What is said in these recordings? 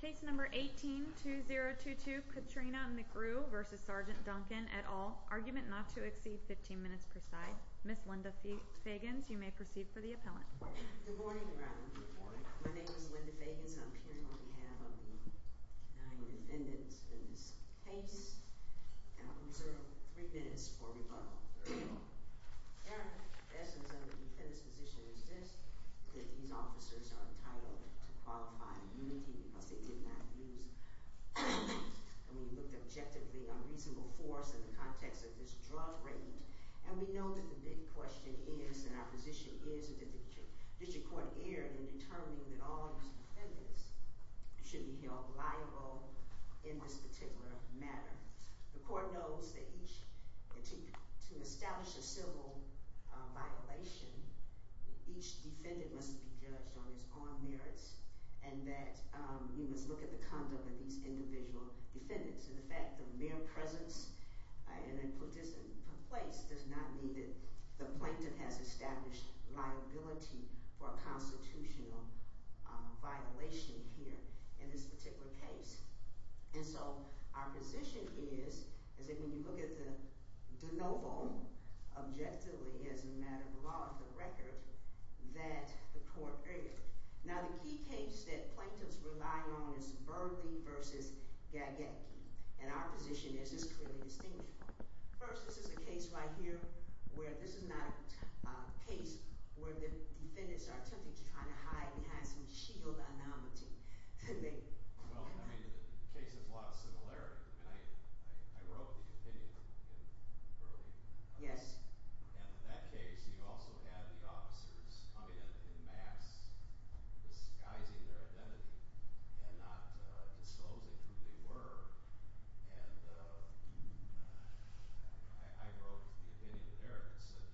Case No. 18-2022, Katrina McGrew v. Sgt. Duncan et al., argument not to exceed 15 minutes per side. Ms. Linda Fagans, you may proceed for the appellant. Good morning, Your Honor. Good morning. My name is Linda Fagans, and I'm here on behalf of the nine defendants in this case, and I'll reserve three minutes for rebuttal. Your Honor, the essence of the defendant's position is this, that these officers are entitled to qualify immunity because they did not use force. And we looked objectively on reasonable force in the context of this drug raid, and we know that the big question is, and our position is, that the district court erred in determining that all of these defendants should be held liable in this particular matter. The court knows that each—to establish a civil violation, each defendant must be judged on his own merits and that we must look at the conduct of these individual defendants. And the fact of mere presence in a participant's place does not mean that the plaintiff has established liability for a constitutional violation here in this particular case. And so our position is, is that when you look at the de novo, objectively as a matter of the law, the record, that the court erred. Now, the key case that plaintiffs rely on is Burley v. Gagetke. And our position is it's clearly distinguished. First, this is a case right here where this is not a case where the defendants are attempting to try to hide and hide some shield anonymity. Well, I mean, the case has a lot of similarity. I mean, I wrote the opinion in Burley. Yes. And in that case, you also had the officers coming in in mass, disguising their identity and not disclosing who they were. And I wrote the opinion there that said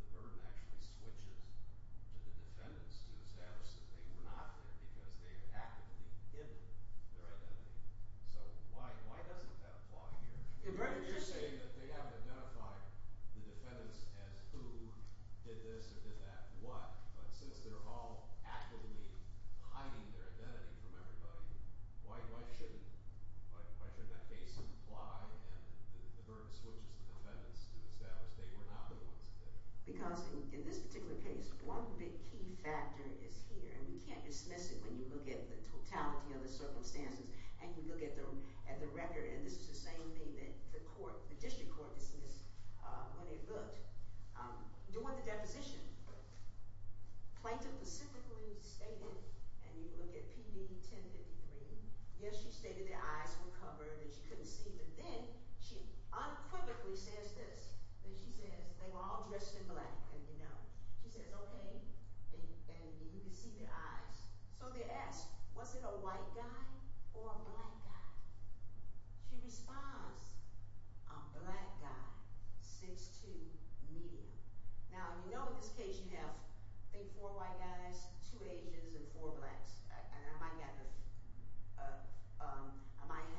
the burden actually switches to the defendants to establish that they were not there because they've actively given their identity. So why doesn't that apply here? You're saying that they haven't identified the defendants as who did this or did that, what, but since they're all actively hiding their identity from everybody, why shouldn't that case apply and the burden switches the defendants to establish they were not the ones there? Because in this particular case, one big key factor is here, and we can't dismiss it when you look at the totality of the circumstances and you look at the record, and this is the same thing that the court, the district court dismissed when they looked. During the deposition, Plaintiff specifically stated, and you look at PD 1053, yes, she stated their eyes were covered and she couldn't see, but then she unequivocally says this, that she says they were all dressed in black and, you know, she says, okay, and you can see their eyes. So they asked, was it a white guy or a black guy? She responds, a black guy, 6'2", medium. Now, you know in this case you have, I think, four white guys, two Asians, and four blacks. And I might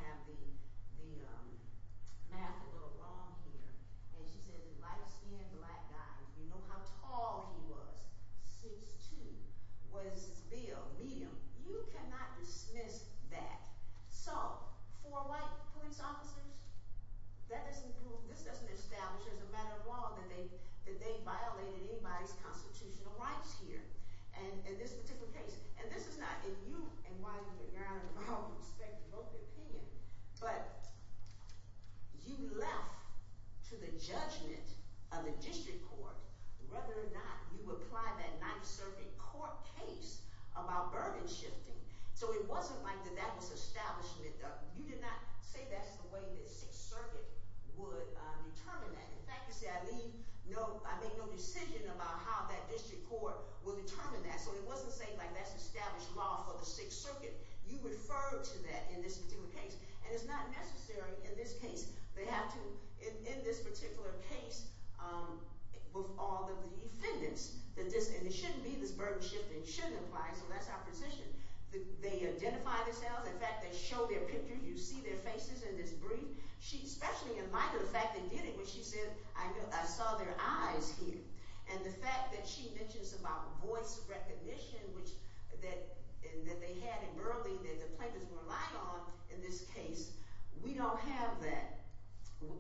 have the math a little wrong here. And she said the light-skinned black guy, you know how tall he was, 6'2", was male, medium. You cannot dismiss that. So four white police officers, that doesn't prove, this doesn't establish as a matter of law that they violated anybody's constitutional rights here in this particular case. And this is not in you and Wiley's or Your Honor's or my own perspective or the opinion, but you left to the judgment of the district court whether or not you applied that Ninth Circuit court case about burden shifting. So it wasn't like that that was establishment. You did not say that's the way the Sixth Circuit would determine that. In fact, you see, I leave no, I make no decision about how that district court will determine that. So it wasn't saying like that's established law for the Sixth Circuit. You refer to that in this particular case. And it's not necessary in this case. They have to, in this particular case, all the defendants, and it shouldn't be this burden shifting. It shouldn't apply. So that's our position. They identify themselves. In fact, they show their picture. You see their faces in this brief. She especially in light of the fact they did it when she said, I saw their eyes here. And the fact that she mentions about voice recognition that they had in Burleigh that the plaintiffs relied on in this case, we don't have that,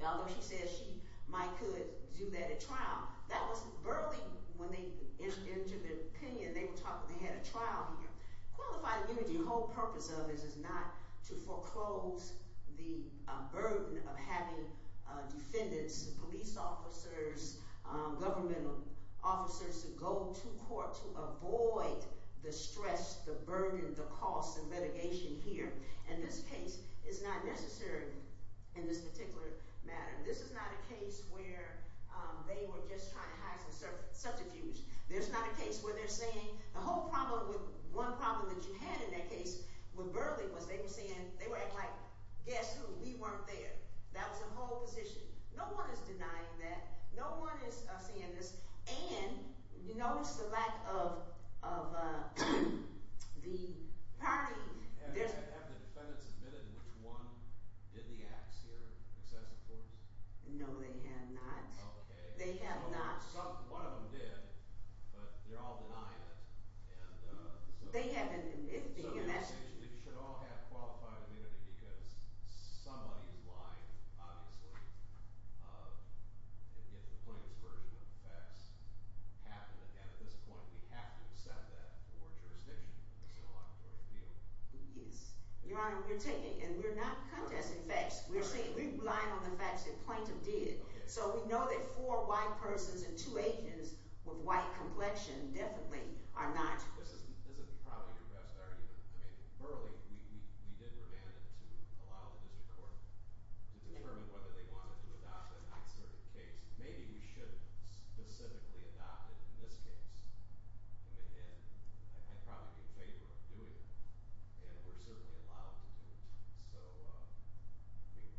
although she says she might could do that at trial. That was Burleigh when they entered into their opinion. They were talking, they had a trial here. Qualified immunity, the whole purpose of it is not to foreclose the burden of having defendants, police officers, government officers to go to court to avoid the stress, the burden, the cost of litigation here. And this case is not necessary in this particular matter. This is not a case where they were just trying to hide some subterfuge. There's not a case where they're saying the whole problem with one problem that you had in that case with Burleigh was they were saying, they were like, guess who? We weren't there. That was the whole position. No one is denying that. No one is saying this. And you notice the lack of the party. Have the defendants admitted which one did the acts here, excessive force? No, they have not. They have not. One of them did, but they're all denying it. They haven't. So they should all have qualified immunity because somebody is lying, obviously, and yet the plaintiff's version of the facts happened. And at this point, we have to accept that for jurisdiction in the civil laboratory appeal. Yes. Your Honor, we're taking and we're not contesting facts. We're relying on the facts that the plaintiff did. So we know that four white persons and two Asians with white complexion definitely are not. This is probably your best argument. I mean, Burleigh, we did remand it to allow the district court to determine whether they wanted to adopt it in that sort of case. Maybe we should have specifically adopted it in this case. And I'd probably be in favor of doing it. And we're certainly allowed to do it.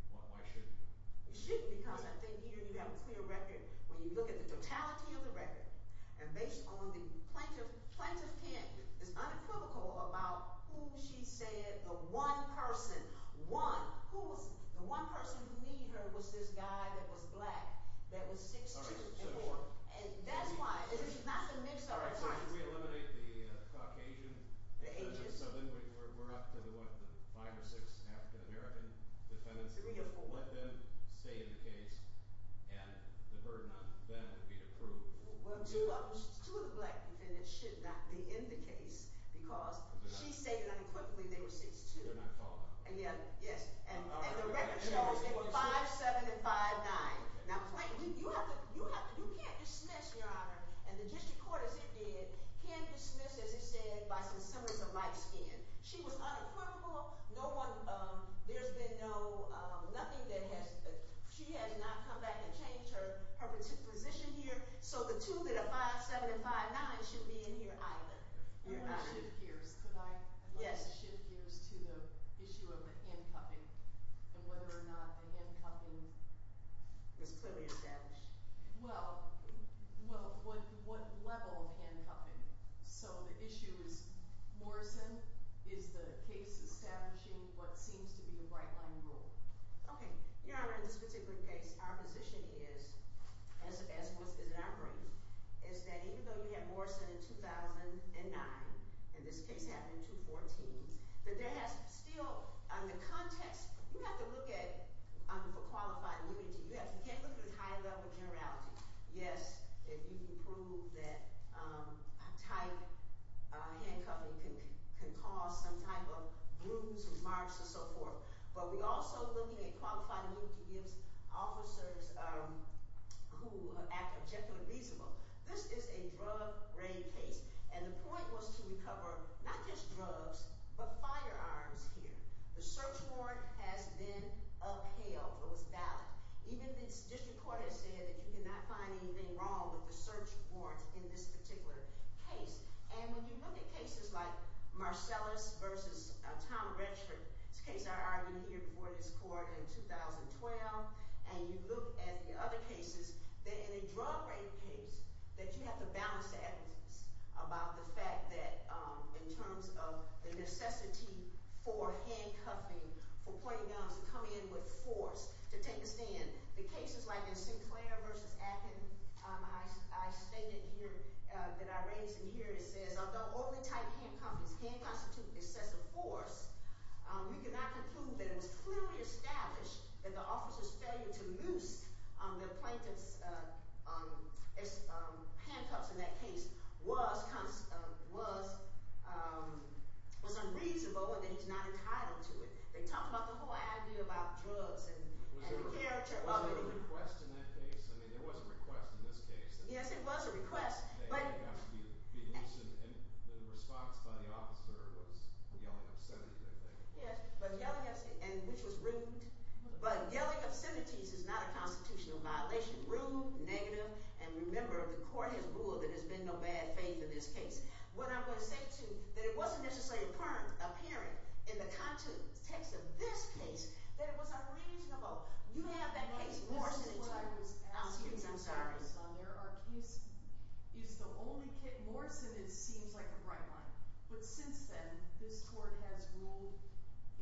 So why shouldn't we? You shouldn't because I think either you have a clear record when you look at the totality of the record and based on the plaintiff's case, it's unequivocal about who she said the one person, one, who was – the one person who need her was this guy that was black, that was 6'2". And that's why – this is not the mix of our times. All right. So should we eliminate the Caucasian? The Asian. We're up to the what, the five or six African-American defendants. Three or four. Let them stay in the case and the burden on them would be approved. Well, two of the black defendants should not be in the case because she stated unequivocally they were 6'2". They're not tall. Yes. And the record shows they were 5'7 and 5'9". Now, Plaintiff, you have to – you can't dismiss, Your Honor, and the district court as it did can't dismiss, as it said, by consensus of light skin. She was unaffordable. No one – there's been no – nothing that has – she has not come back and changed her position here. So the two that are 5'7 and 5'9 shouldn't be in here either. I want to shift gears. Yes. I'd like to shift gears to the issue of the handcuffing and whether or not the handcuffing is clearly established. Well, what level of handcuffing? So the issue is, Morrison, is the case establishing what seems to be a bright-line rule? Okay. Your Honor, in this particular case, our position is, as was established, is that even though you had Morrison in 2009 and this case happened in 2014, that there has still – the context – you have to look at – for qualified immunity, you can't look at it as high-level generality. Yes, if you can prove that tight handcuffing can cause some type of bruise or marks and so forth. But we're also looking at qualified immunity gives officers who act objectively reasonable. This is a drug-raid case, and the point was to recover not just drugs but firearms here. The search warrant has been upheld. It was valid. Even the district court has said that you cannot find anything wrong with the search warrant in this particular case. And when you look at cases like Marcellus v. Tom Redford – this case I argued here before this court in 2012 – and you look at the other cases, in a drug-raid case, that you have to balance the evidence about the fact that in terms of the necessity for handcuffing, for pointing guns, to come in with force, to take the stand. The cases like in Sinclair v. Atkin, I stated here – that I raised in here – it says although only tight handcuffings can constitute excessive force, we cannot conclude that it was clearly established that the officer's failure to moose the plaintiff's handcuffs in that case was unreasonable or that he's not entitled to it. They talked about the whole idea about drugs and the character of it. Was there a request in that case? I mean, there was a request in this case. Yes, there was a request, but – And the response by the officer was yelling obscenity, I think. Yes, but yelling obscenity, which was rude. But yelling obscenities is not a constitutional violation. Rude, negative, and remember the court has ruled that there's been no bad faith in this case. What I'm going to say, too, that it wasn't necessarily apparent in the context of this case that it was unreasonable. You have that case – This is what I was asking. I'm sorry. Our case is the only case – Morrison, it seems like a bright line. But since then, this court has ruled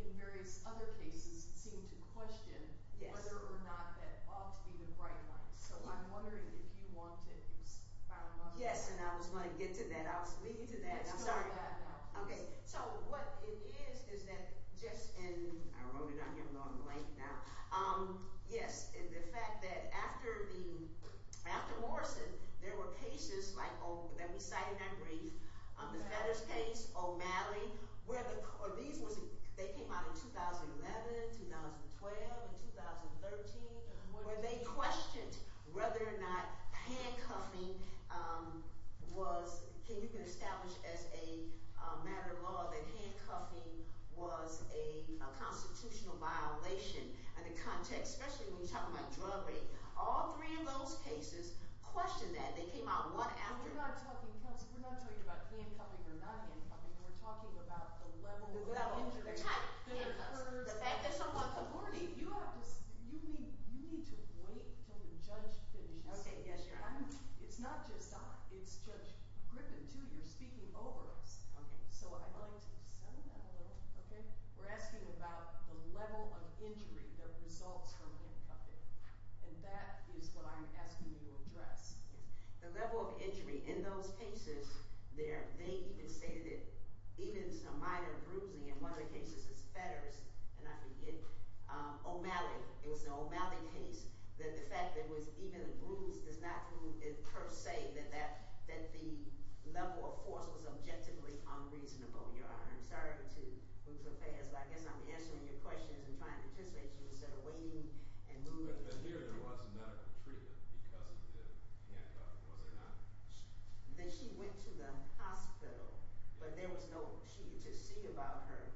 in various other cases that seem to question whether or not that ought to be the bright line. So I'm wondering if you want to – Yes, and I was going to get to that. I was leading to that. I'm sorry. Okay. So what it is is that just in – I wrote it on here. I'm going blank now. Yes, the fact that after Morrison, there were cases like that we cited in that brief, the Fetters case, O'Malley, where the – was – you can establish as a matter of law that handcuffing was a constitutional violation. And the context, especially when you're talking about drug rape, all three of those cases question that. They came out one after – We're not talking – Kelsey, we're not talking about handcuffing or not handcuffing. We're talking about the level of injury. The level. The type. Handcuffs. The fact that someone – You need to wait until the judge finishes. Okay. Yes, Your Honor. It's not just – it's Judge Griffin, too. You're speaking over us. Okay. So I'd like to settle that a little. Okay? We're asking about the level of injury that results from handcuffing, and that is what I'm asking you to address. Yes. The level of injury in those cases there, they even stated it. Even some minor bruising in one of the cases is Fetters, and I forget – O'Malley. It was the O'Malley case. The fact that it was even a bruise does not prove per se that the level of force was objectively unreasonable, Your Honor. I'm sorry to move so fast, but I guess I'm answering your questions and trying to anticipate you instead of waiting and moving. But here there was medical treatment because of the handcuffing, was there not? That she went to the hospital, but there was no – to see about her,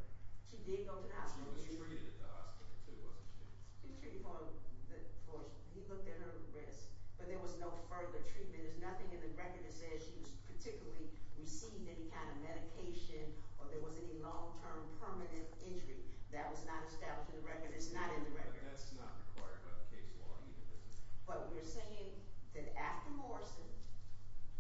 she did go to the hospital. She was treated at the hospital, too, wasn't she? Treated for – he looked at her wrist, but there was no further treatment. There's nothing in the record that says she particularly received any kind of medication or there was any long-term permanent injury. That was not established in the record. It's not in the record. But that's not required by the case law either, is it? But we're saying that after Morrison,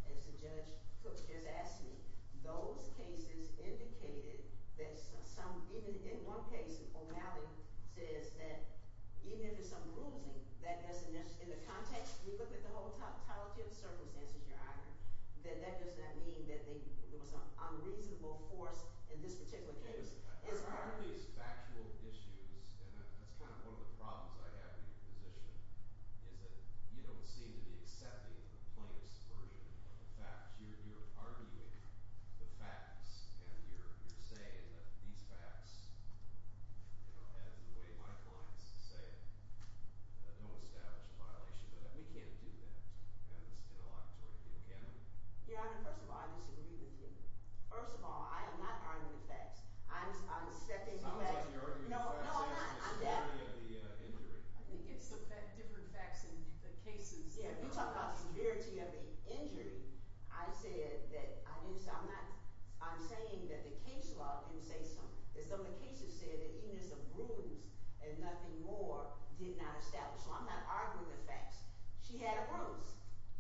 as Judge Cook has asked me, those cases indicated that some – even in one case, O'Malley says that even if it's some bruising, that doesn't – in the context, we look at the whole totality of the circumstances, Your Honor, that that does not mean that there was unreasonable force in this particular case. One of these factual issues, and that's kind of one of the problems I have in your position, is that you don't seem to be accepting the plaintiff's version of the facts. You're arguing the facts, and you're saying that these facts, as the way my clients say it, don't establish a violation of that. We can't do that in a laboratory, can we? Your Honor, first of all, I disagree with you. First of all, I am not arguing the facts. I'm stepping back. I'm not arguing the facts. No, I'm not. It's the severity of the injury. I think it's the different facts in the cases. Yeah, if you talk about the severity of the injury, I said that I didn't – I'm not – I'm saying that the case law didn't say something. Some of the cases said that even if it's a bruise and nothing more, did not establish. So I'm not arguing the facts. She had a bruise.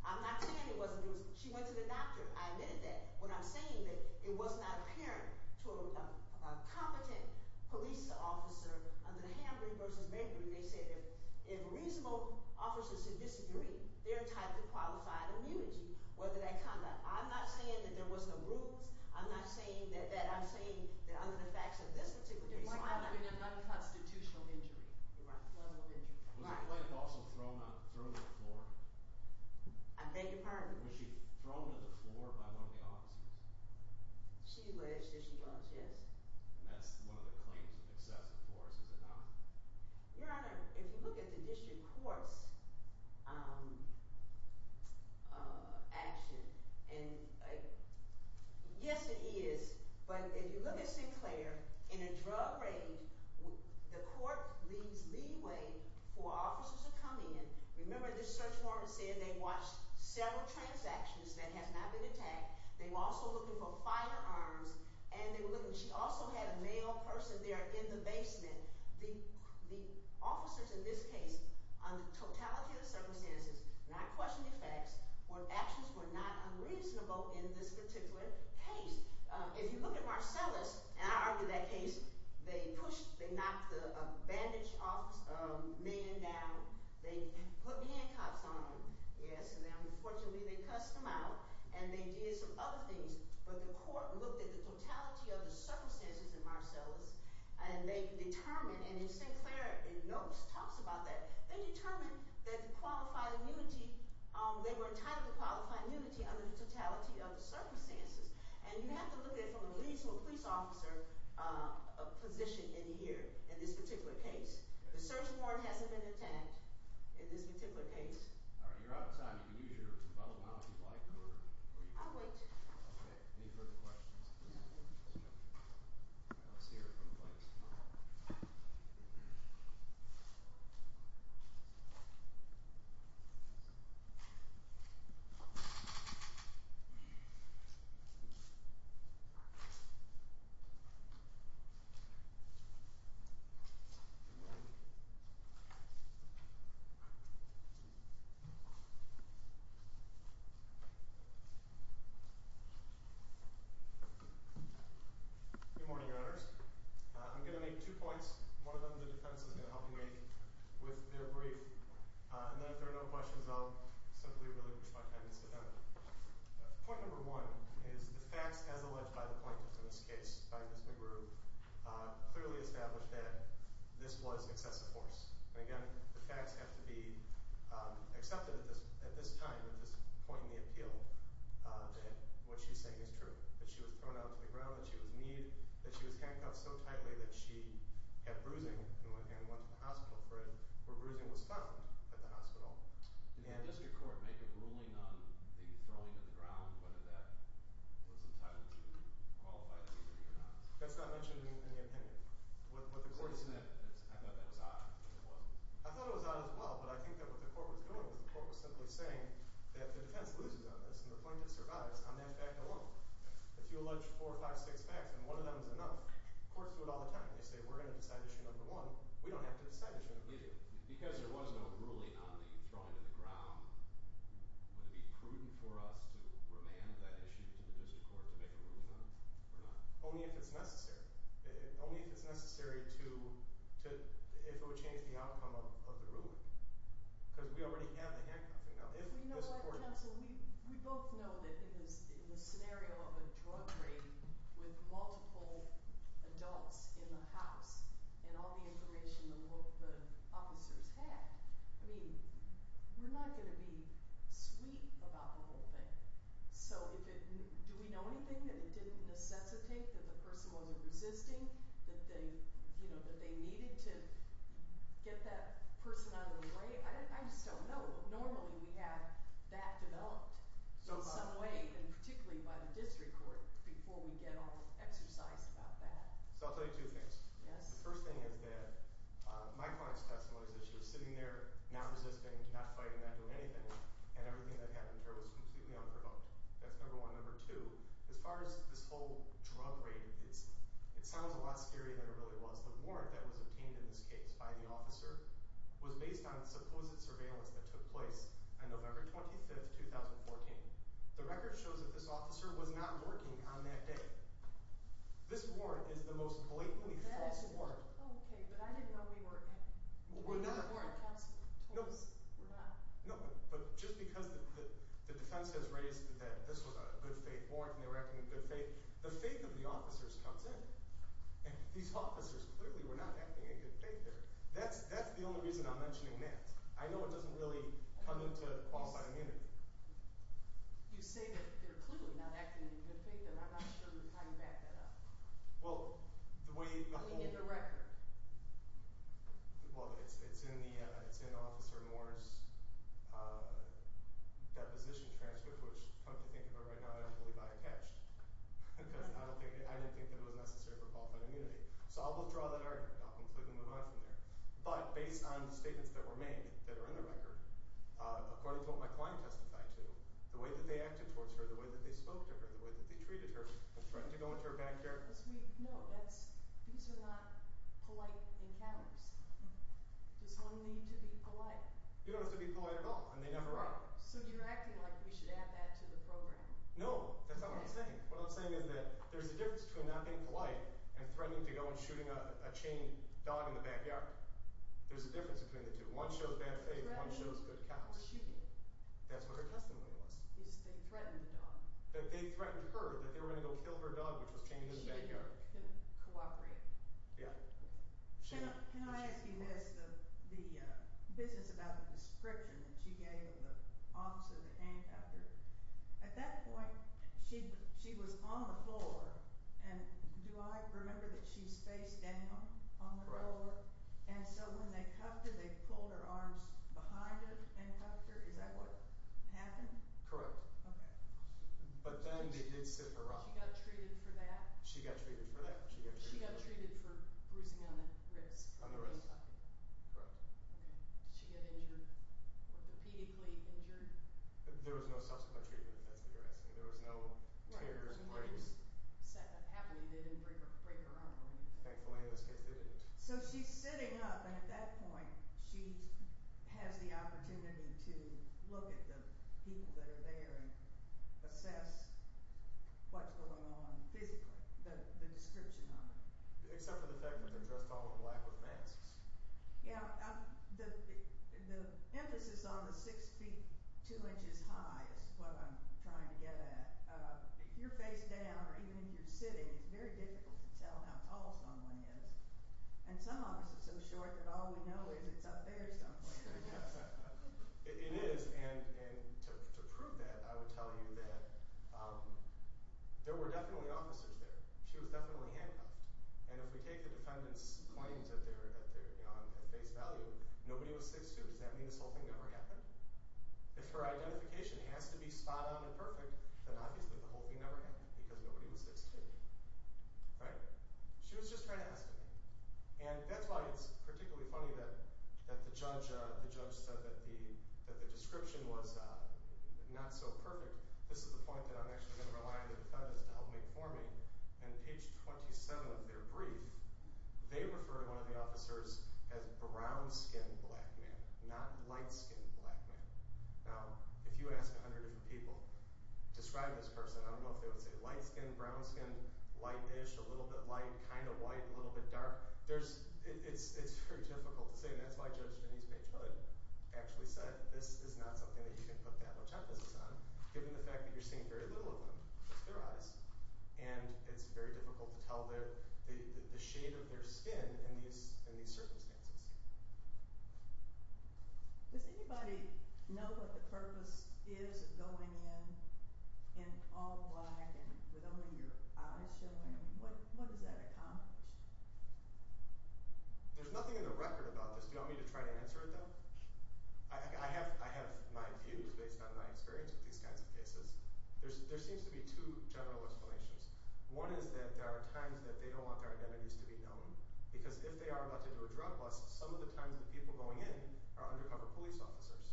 I'm not saying it wasn't a bruise. She went to the doctor. I admitted that. What I'm saying that it was not apparent to a competent police officer under the Hambring v. Maybring. They said if reasonable officers had disagreed, they're entitled to qualified immunity whether that conduct. I'm not saying that there was no bruise. I'm not saying that – I'm saying that under the facts of this particular case law – It might not have been a nonconstitutional injury. Right. Was the plate also thrown on – thrown to the floor? I beg your pardon? Was she thrown to the floor by one of the officers? She was. She was. Yes. And that's one of the claims of excessive force, is it not? Your Honor, if you look at the district court's action and – yes, it is. But if you look at Sinclair, in a drug raid, the court leaves leeway for officers to come in. Remember this search warrant said they watched several transactions that have not been attacked. They were also looking for firearms, and they were looking – she also had a male person there in the basement. The officers in this case, under the totality of the circumstances, not questioning facts, were – actions were not unreasonable in this particular case. If you look at Marcellus – and I argued that case – they pushed – they knocked the bandage off a man down. They put handcuffs on him. Yes. And then, unfortunately, they cussed him out, and they did some other things. But the court looked at the totality of the circumstances in Marcellus, and they determined – and Sinclair in notes talks about that. They determined that the qualified immunity – they were entitled to qualified immunity under the totality of the circumstances. And you have to look at, from the police to a police officer, a position in here in this particular case. The search warrant hasn't been attacked in this particular case. All right. You're out of time. You can use your bubble now if you'd like or – I'll wait. Okay. Any further questions? No. All right. Let's hear it from the plaintiffs. Good morning, Your Honors. I'm going to make two points. One of them the defense is going to help me make with their brief. And then if there are no questions, I'll simply relinquish my time and sit down. Point number one is the facts, as alleged by the plaintiffs in this case, by Ms. McGrew, clearly established that this was excessive force. And again, the facts have to be accepted at this time, at this point in the appeal, that what she's saying is true, that she was thrown out to the ground, that she was kneed, that she was handcuffed so tightly that she had bruising and went to the hospital for it, where bruising was found at the hospital. Did the district court make a ruling on the throwing to the ground, whether that was entitled to be qualified or not? That's not mentioned in the opinion. I thought that was odd. I thought it was odd as well, but I think that what the court was doing was the court was simply saying that the defense loses on this and the plaintiff survives on that fact alone. If you allege four or five, six facts and one of them is enough, courts do it all the time. They say we're going to decide issue number one. We don't have to decide issue number one. Because there was no ruling on the throwing to the ground, would it be prudent for us to remand that issue to the district court to make a ruling on it or not? Only if it's necessary. Only if it's necessary to – if it would change the outcome of the ruling. Because we already have the handcuffing. We both know that in the scenario of a drug raid with multiple adults in the house and all the information the officers had, we're not going to be sweet about the whole thing. So do we know anything that it didn't necessitate that the person wasn't resisting, that they needed to get that person out of the way? I just don't know. Normally we have that developed in some way and particularly by the district court before we get all exercised about that. So I'll tell you two things. Yes. The first thing is that my client's testimony is that she was sitting there not resisting, not fighting, not doing anything, and everything that happened to her was completely unprovoked. That's number one. On November 25th, 2014, the record shows that this officer was not working on that day. This warrant is the most blatantly false warrant. Oh, okay, but I didn't know we weren't. We're not. We're not. No, but just because the defense has raised that this was a good faith warrant and they were acting in good faith, the faith of the officers comes in. These officers clearly were not acting in good faith there. That's the only reason I'm mentioning that. I know it doesn't really come into qualified immunity. You say that they're clearly not acting in good faith, and I'm not sure how you back that up. Well, the way the whole— We need a record. Well, it's in Officer Moore's deposition transcript, which come to think of it right now, I don't believe I attached because I didn't think it was necessary for qualified immunity. So I'll withdraw that argument. I'll completely move on from there. But based on the statements that were made that are in the record, according to what my client testified to, the way that they acted towards her, the way that they spoke to her, the way that they treated her, the threat to go into her backyard— No, that's—these are not polite encounters. Does one need to be polite? You don't have to be polite at all, and they never are. So you're acting like we should add that to the program. No, that's not what I'm saying. What I'm saying is that there's a difference between not being polite and threatening to go and shooting a chained dog in the backyard. There's a difference between the two. One shows bad faith. One shows good counsel. Threatening or shooting. That's what her testimony was. They threatened the dog. They threatened her that they were going to go kill her dog, which was chained in the backyard. She didn't cooperate. Yeah. Can I ask you this, the business about the description that she gave of the officer that handcuffed her? At that point, she was on the floor, and do I remember that she's face down on the floor? Correct. And so when they cuffed her, they pulled her arms behind it and cuffed her? Is that what happened? Correct. Okay. But then they did sit her up. She got treated for that? She got treated for that. She got treated for bruising on the wrists? On the wrists. Correct. Okay. Did she get injured, orthopedically injured? There was no subsequent treatment. That's what you're asking. There was no tears and breaks. When that was happening, they didn't break her arm or anything? Thankfully, in this case, they didn't. So she's sitting up, and at that point, she has the opportunity to look at the people that are there and assess what's going on physically, the description of it. Except for the fact that they're dressed all in black with masks. Yeah. The emphasis on the 6 feet 2 inches high is what I'm trying to get at. If you're face down or even if you're sitting, it's very difficult to tell how tall someone is. And some officers are so short that all we know is it's up there somewhere. It is. It is. And to prove that, I would tell you that there were definitely officers there. She was definitely handcuffed. And if we take the defendant's claims at face value, nobody was 6'2". Does that mean this whole thing never happened? If her identification has to be spot on and perfect, then obviously the whole thing never happened because nobody was 6'2". Right? She was just trying to ask a question. And that's why it's particularly funny that the judge said that the description was not so perfect. This is the point that I'm actually going to rely on the defendants to help make for me. On page 27 of their brief, they refer to one of the officers as brown-skinned black man, not light-skinned black man. Now, if you ask 100 different people, describe this person. I don't know if they would say light-skinned, brown-skinned, light-ish, a little bit light, kind of white, a little bit dark. It's very difficult to say, and that's why Judge Denise Page Hood actually said that this is not something that you can put that much emphasis on, given the fact that you're seeing very little of them. It's their eyes. And it's very difficult to tell the shade of their skin in these circumstances. Does anybody know what the purpose is of going in all black with only your eyes showing? What does that accomplish? There's nothing in the record about this. Do you want me to try to answer it, though? I have my views based on my experience with these kinds of cases. There seems to be two general explanations. One is that there are times that they don't want their identities to be known, because if they are about to do a drug bust, some of the times the people going in are undercover police officers,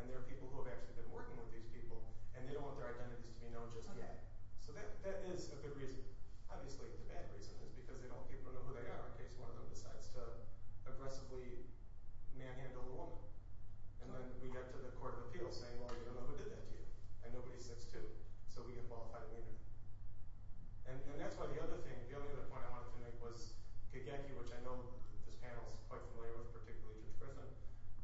and they're people who have actually been working with these people, and they don't want their identities to be known just yet. So that is a good reason. Obviously, the bad reason is because they don't want people to know who they are in case one of them decides to aggressively manhandle a woman. And then we get to the court of appeals saying, well, you don't know who did that to you, and nobody's 6'2", so we can qualify them even. And that's why the other thing, the only other point I wanted to make, was Gagecki, which I know this panel is quite familiar with, particularly Judge Griffin.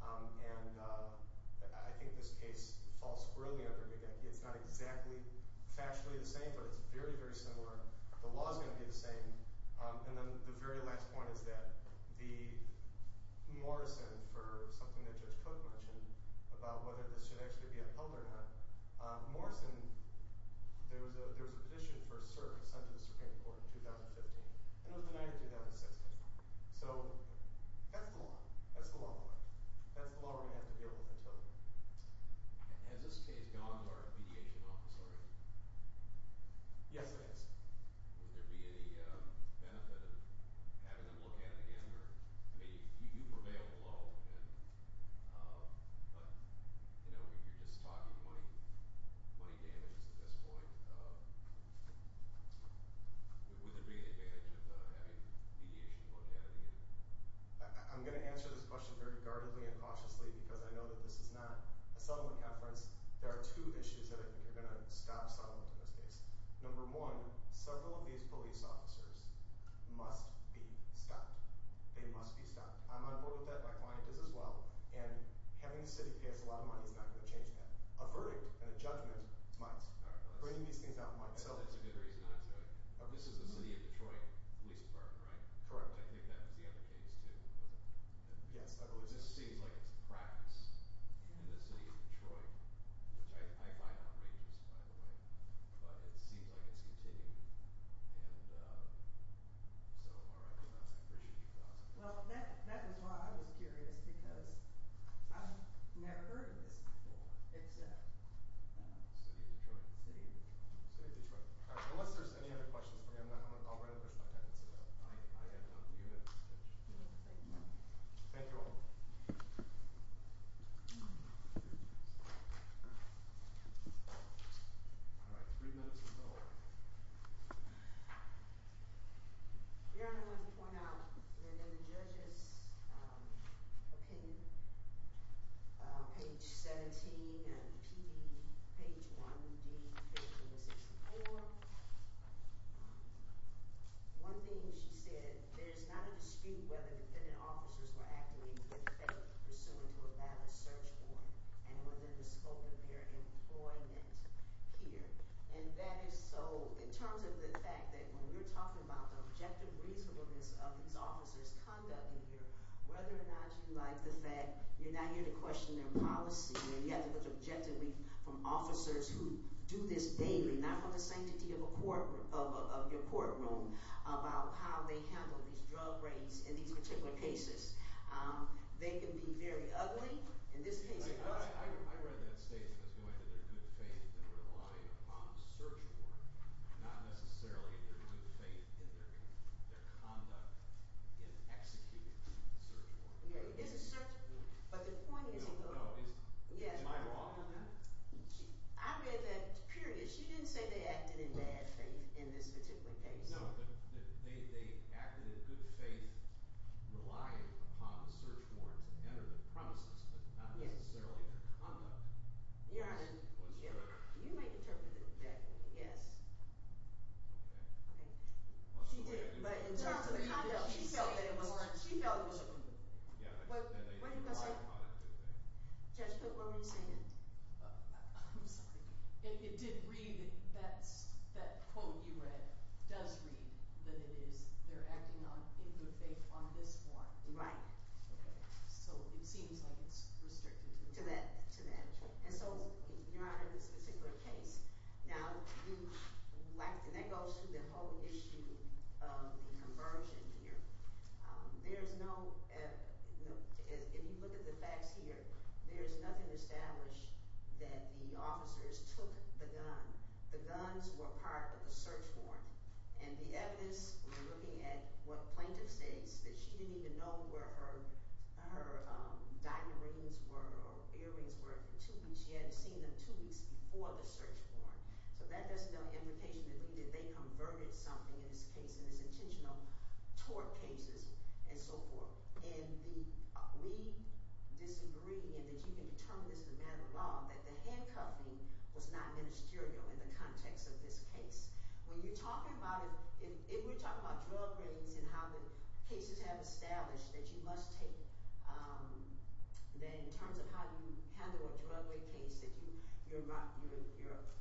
And I think this case falls squarely under Gagecki. It's not exactly factually the same, but it's very, very similar. The law is going to be the same. And then the very last point is that the Morrison, for something that Judge Koch mentioned about whether this should actually be upheld or not, Morrison, there was a petition for a cert sent to the Supreme Court in 2015, and it was denied in 2016. So that's the law. That's the law of the land. That's the law we're going to have to deal with until then. Has this case gone to our mediation officers? Yes, it has. Would there be any benefit of having them look at it again? I mean, you prevailed low, but, you know, you're just talking money damages at this point. Would there be any advantage of having mediation look at it again? I'm going to answer this question very guardedly and cautiously because I know that this is not a settlement conference. There are two issues that I think are going to stop settlement in this case. Number one, several of these police officers must be stopped. They must be stopped. I'm on board with that. My client is as well. And having the city pay us a lot of money is not going to change that. A verdict and a judgment is mine. Bringing these things out is mine. That's a good reason not to. This is the city of Detroit Police Department, right? Correct. I think that was the other case too, wasn't it? Yes, I believe so. It just seems like it's a practice in the city of Detroit, which I find outrageous, by the way. But it seems like it's continuing. And so I appreciate your thoughts on that. Well, that is why I was curious because I've never heard of this before, except – The city of Detroit. The city of Detroit. The city of Detroit. Unless there's any other questions, I'm going to push my pen and sit down. Thank you. Thank you all. All right, three minutes to go. Your Honor, I want to point out that in the judge's opinion, page 17 and P.D., page 1d, page 164, one thing she said, there's not a dispute whether defendant officers were activated in effect pursuant to a valid search warrant and within the scope of their employment here. And that is so – in terms of the fact that when we're talking about the objective reasonableness of these officers' conduct in here, whether or not you like the fact you're not here to question their policy, where you have to look objectively from officers who do this daily, not from the sanctity of your courtroom, about how they handle these drug raids in these particular cases. They can be very ugly in this case. I read that statement as going to their good faith and relying upon a search warrant, not necessarily their good faith in their conduct in executing the search warrant. It's a search – but the point is – No, no. Am I wrong in that? I read that period. She didn't say they acted in bad faith in this particular case. No, they acted in good faith, relying upon the search warrant to enter the premises, but not necessarily their conduct. Your Honor, you may interpret it that way, yes. Okay. Okay. She did, but in terms of the conduct, she felt that it was – She felt it was – What did you want to say? Judge, what were you saying? I'm sorry. It did read – that quote you read does read that it is they're acting in good faith on this warrant. Right. Okay. So it seems like it's restricted to that. To that. To that. And so, Your Honor, in this particular case, now you lack – and that goes through the whole issue of the conversion here. There is no – if you look at the facts here, there is nothing established that the officers took the gun. The guns were part of the search warrant, and the evidence, we're looking at what plaintiff states, that she didn't even know where her diamonds rings were or earrings were for two weeks. She hadn't seen them two weeks before the search warrant. So that doesn't have an implication that they converted something in this case, in this intentional tort cases and so forth. And the – we disagree in that you can determine as a matter of law that the handcuffing was not ministerial in the context of this case. When you're talking about – if we're talking about drug raids and how the cases have established that you must take, that in terms of how you handle a drug raid case, that you're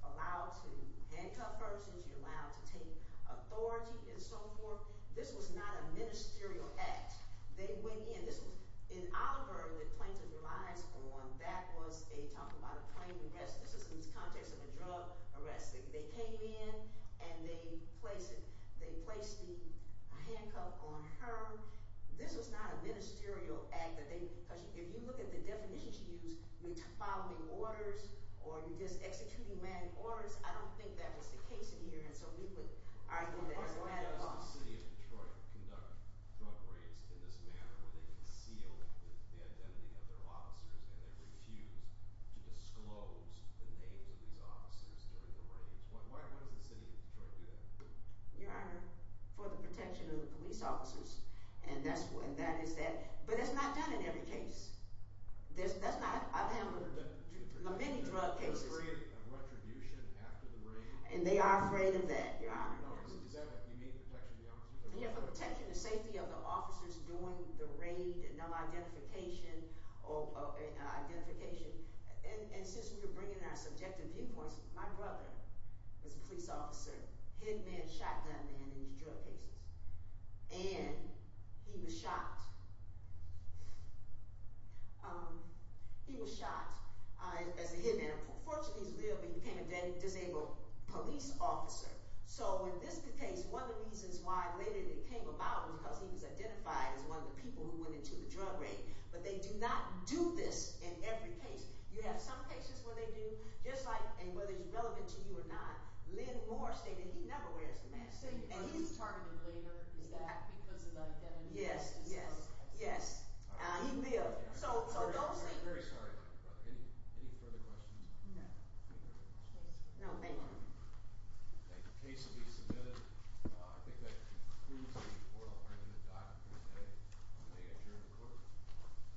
allowed to handcuff persons, you're allowed to take authority and so forth, this was not a ministerial act. They went in – this was – in Oliver, the plaintiff relies on that was a – talking about a plaintiff arrest. This is in the context of a drug arrest. They came in and they placed it – they placed the handcuff on her. This was not a ministerial act that they – because if you look at the definitions you use, you're following orders or you're just executing manned orders. I don't think that was the case in here, and so we would argue that as a matter of law. Why does the city of Detroit conduct drug raids in this manner where they conceal the identity of their officers and they refuse to disclose the names of these officers during the raids? Why does the city of Detroit do that? Your Honor, for the protection of the police officers, and that is that. But that's not done in every case. That's not – I've handled many drug cases. There's a period of retribution after the raid. And they are afraid of that, Your Honor. Is that – you mean protection of the officers? Yeah, for the protection and safety of the officers during the raid and identification. And since we were bringing in our subjective viewpoints, my brother was a police officer, hit man, shot gun man in these drug cases. And he was shot. He was shot as a hit man. Fortunately, he lived, but he became a disabled police officer. So in this case, one of the reasons why later they came about was because he was identified as one of the people who went into the drug raid. But they do not do this in every case. You have some cases where they do, just like – and whether it's relevant to you or not. Len Moore stated he never wears a mask. And he's targeted later. Is that because of the identity? Yes, yes, yes. He lived. So those – We're very sorry about that, Brother. Any further questions? No. No, thank you. The case will be submitted. I think that concludes the report. I'll hand it to Dr. Creste to make a adjournment report.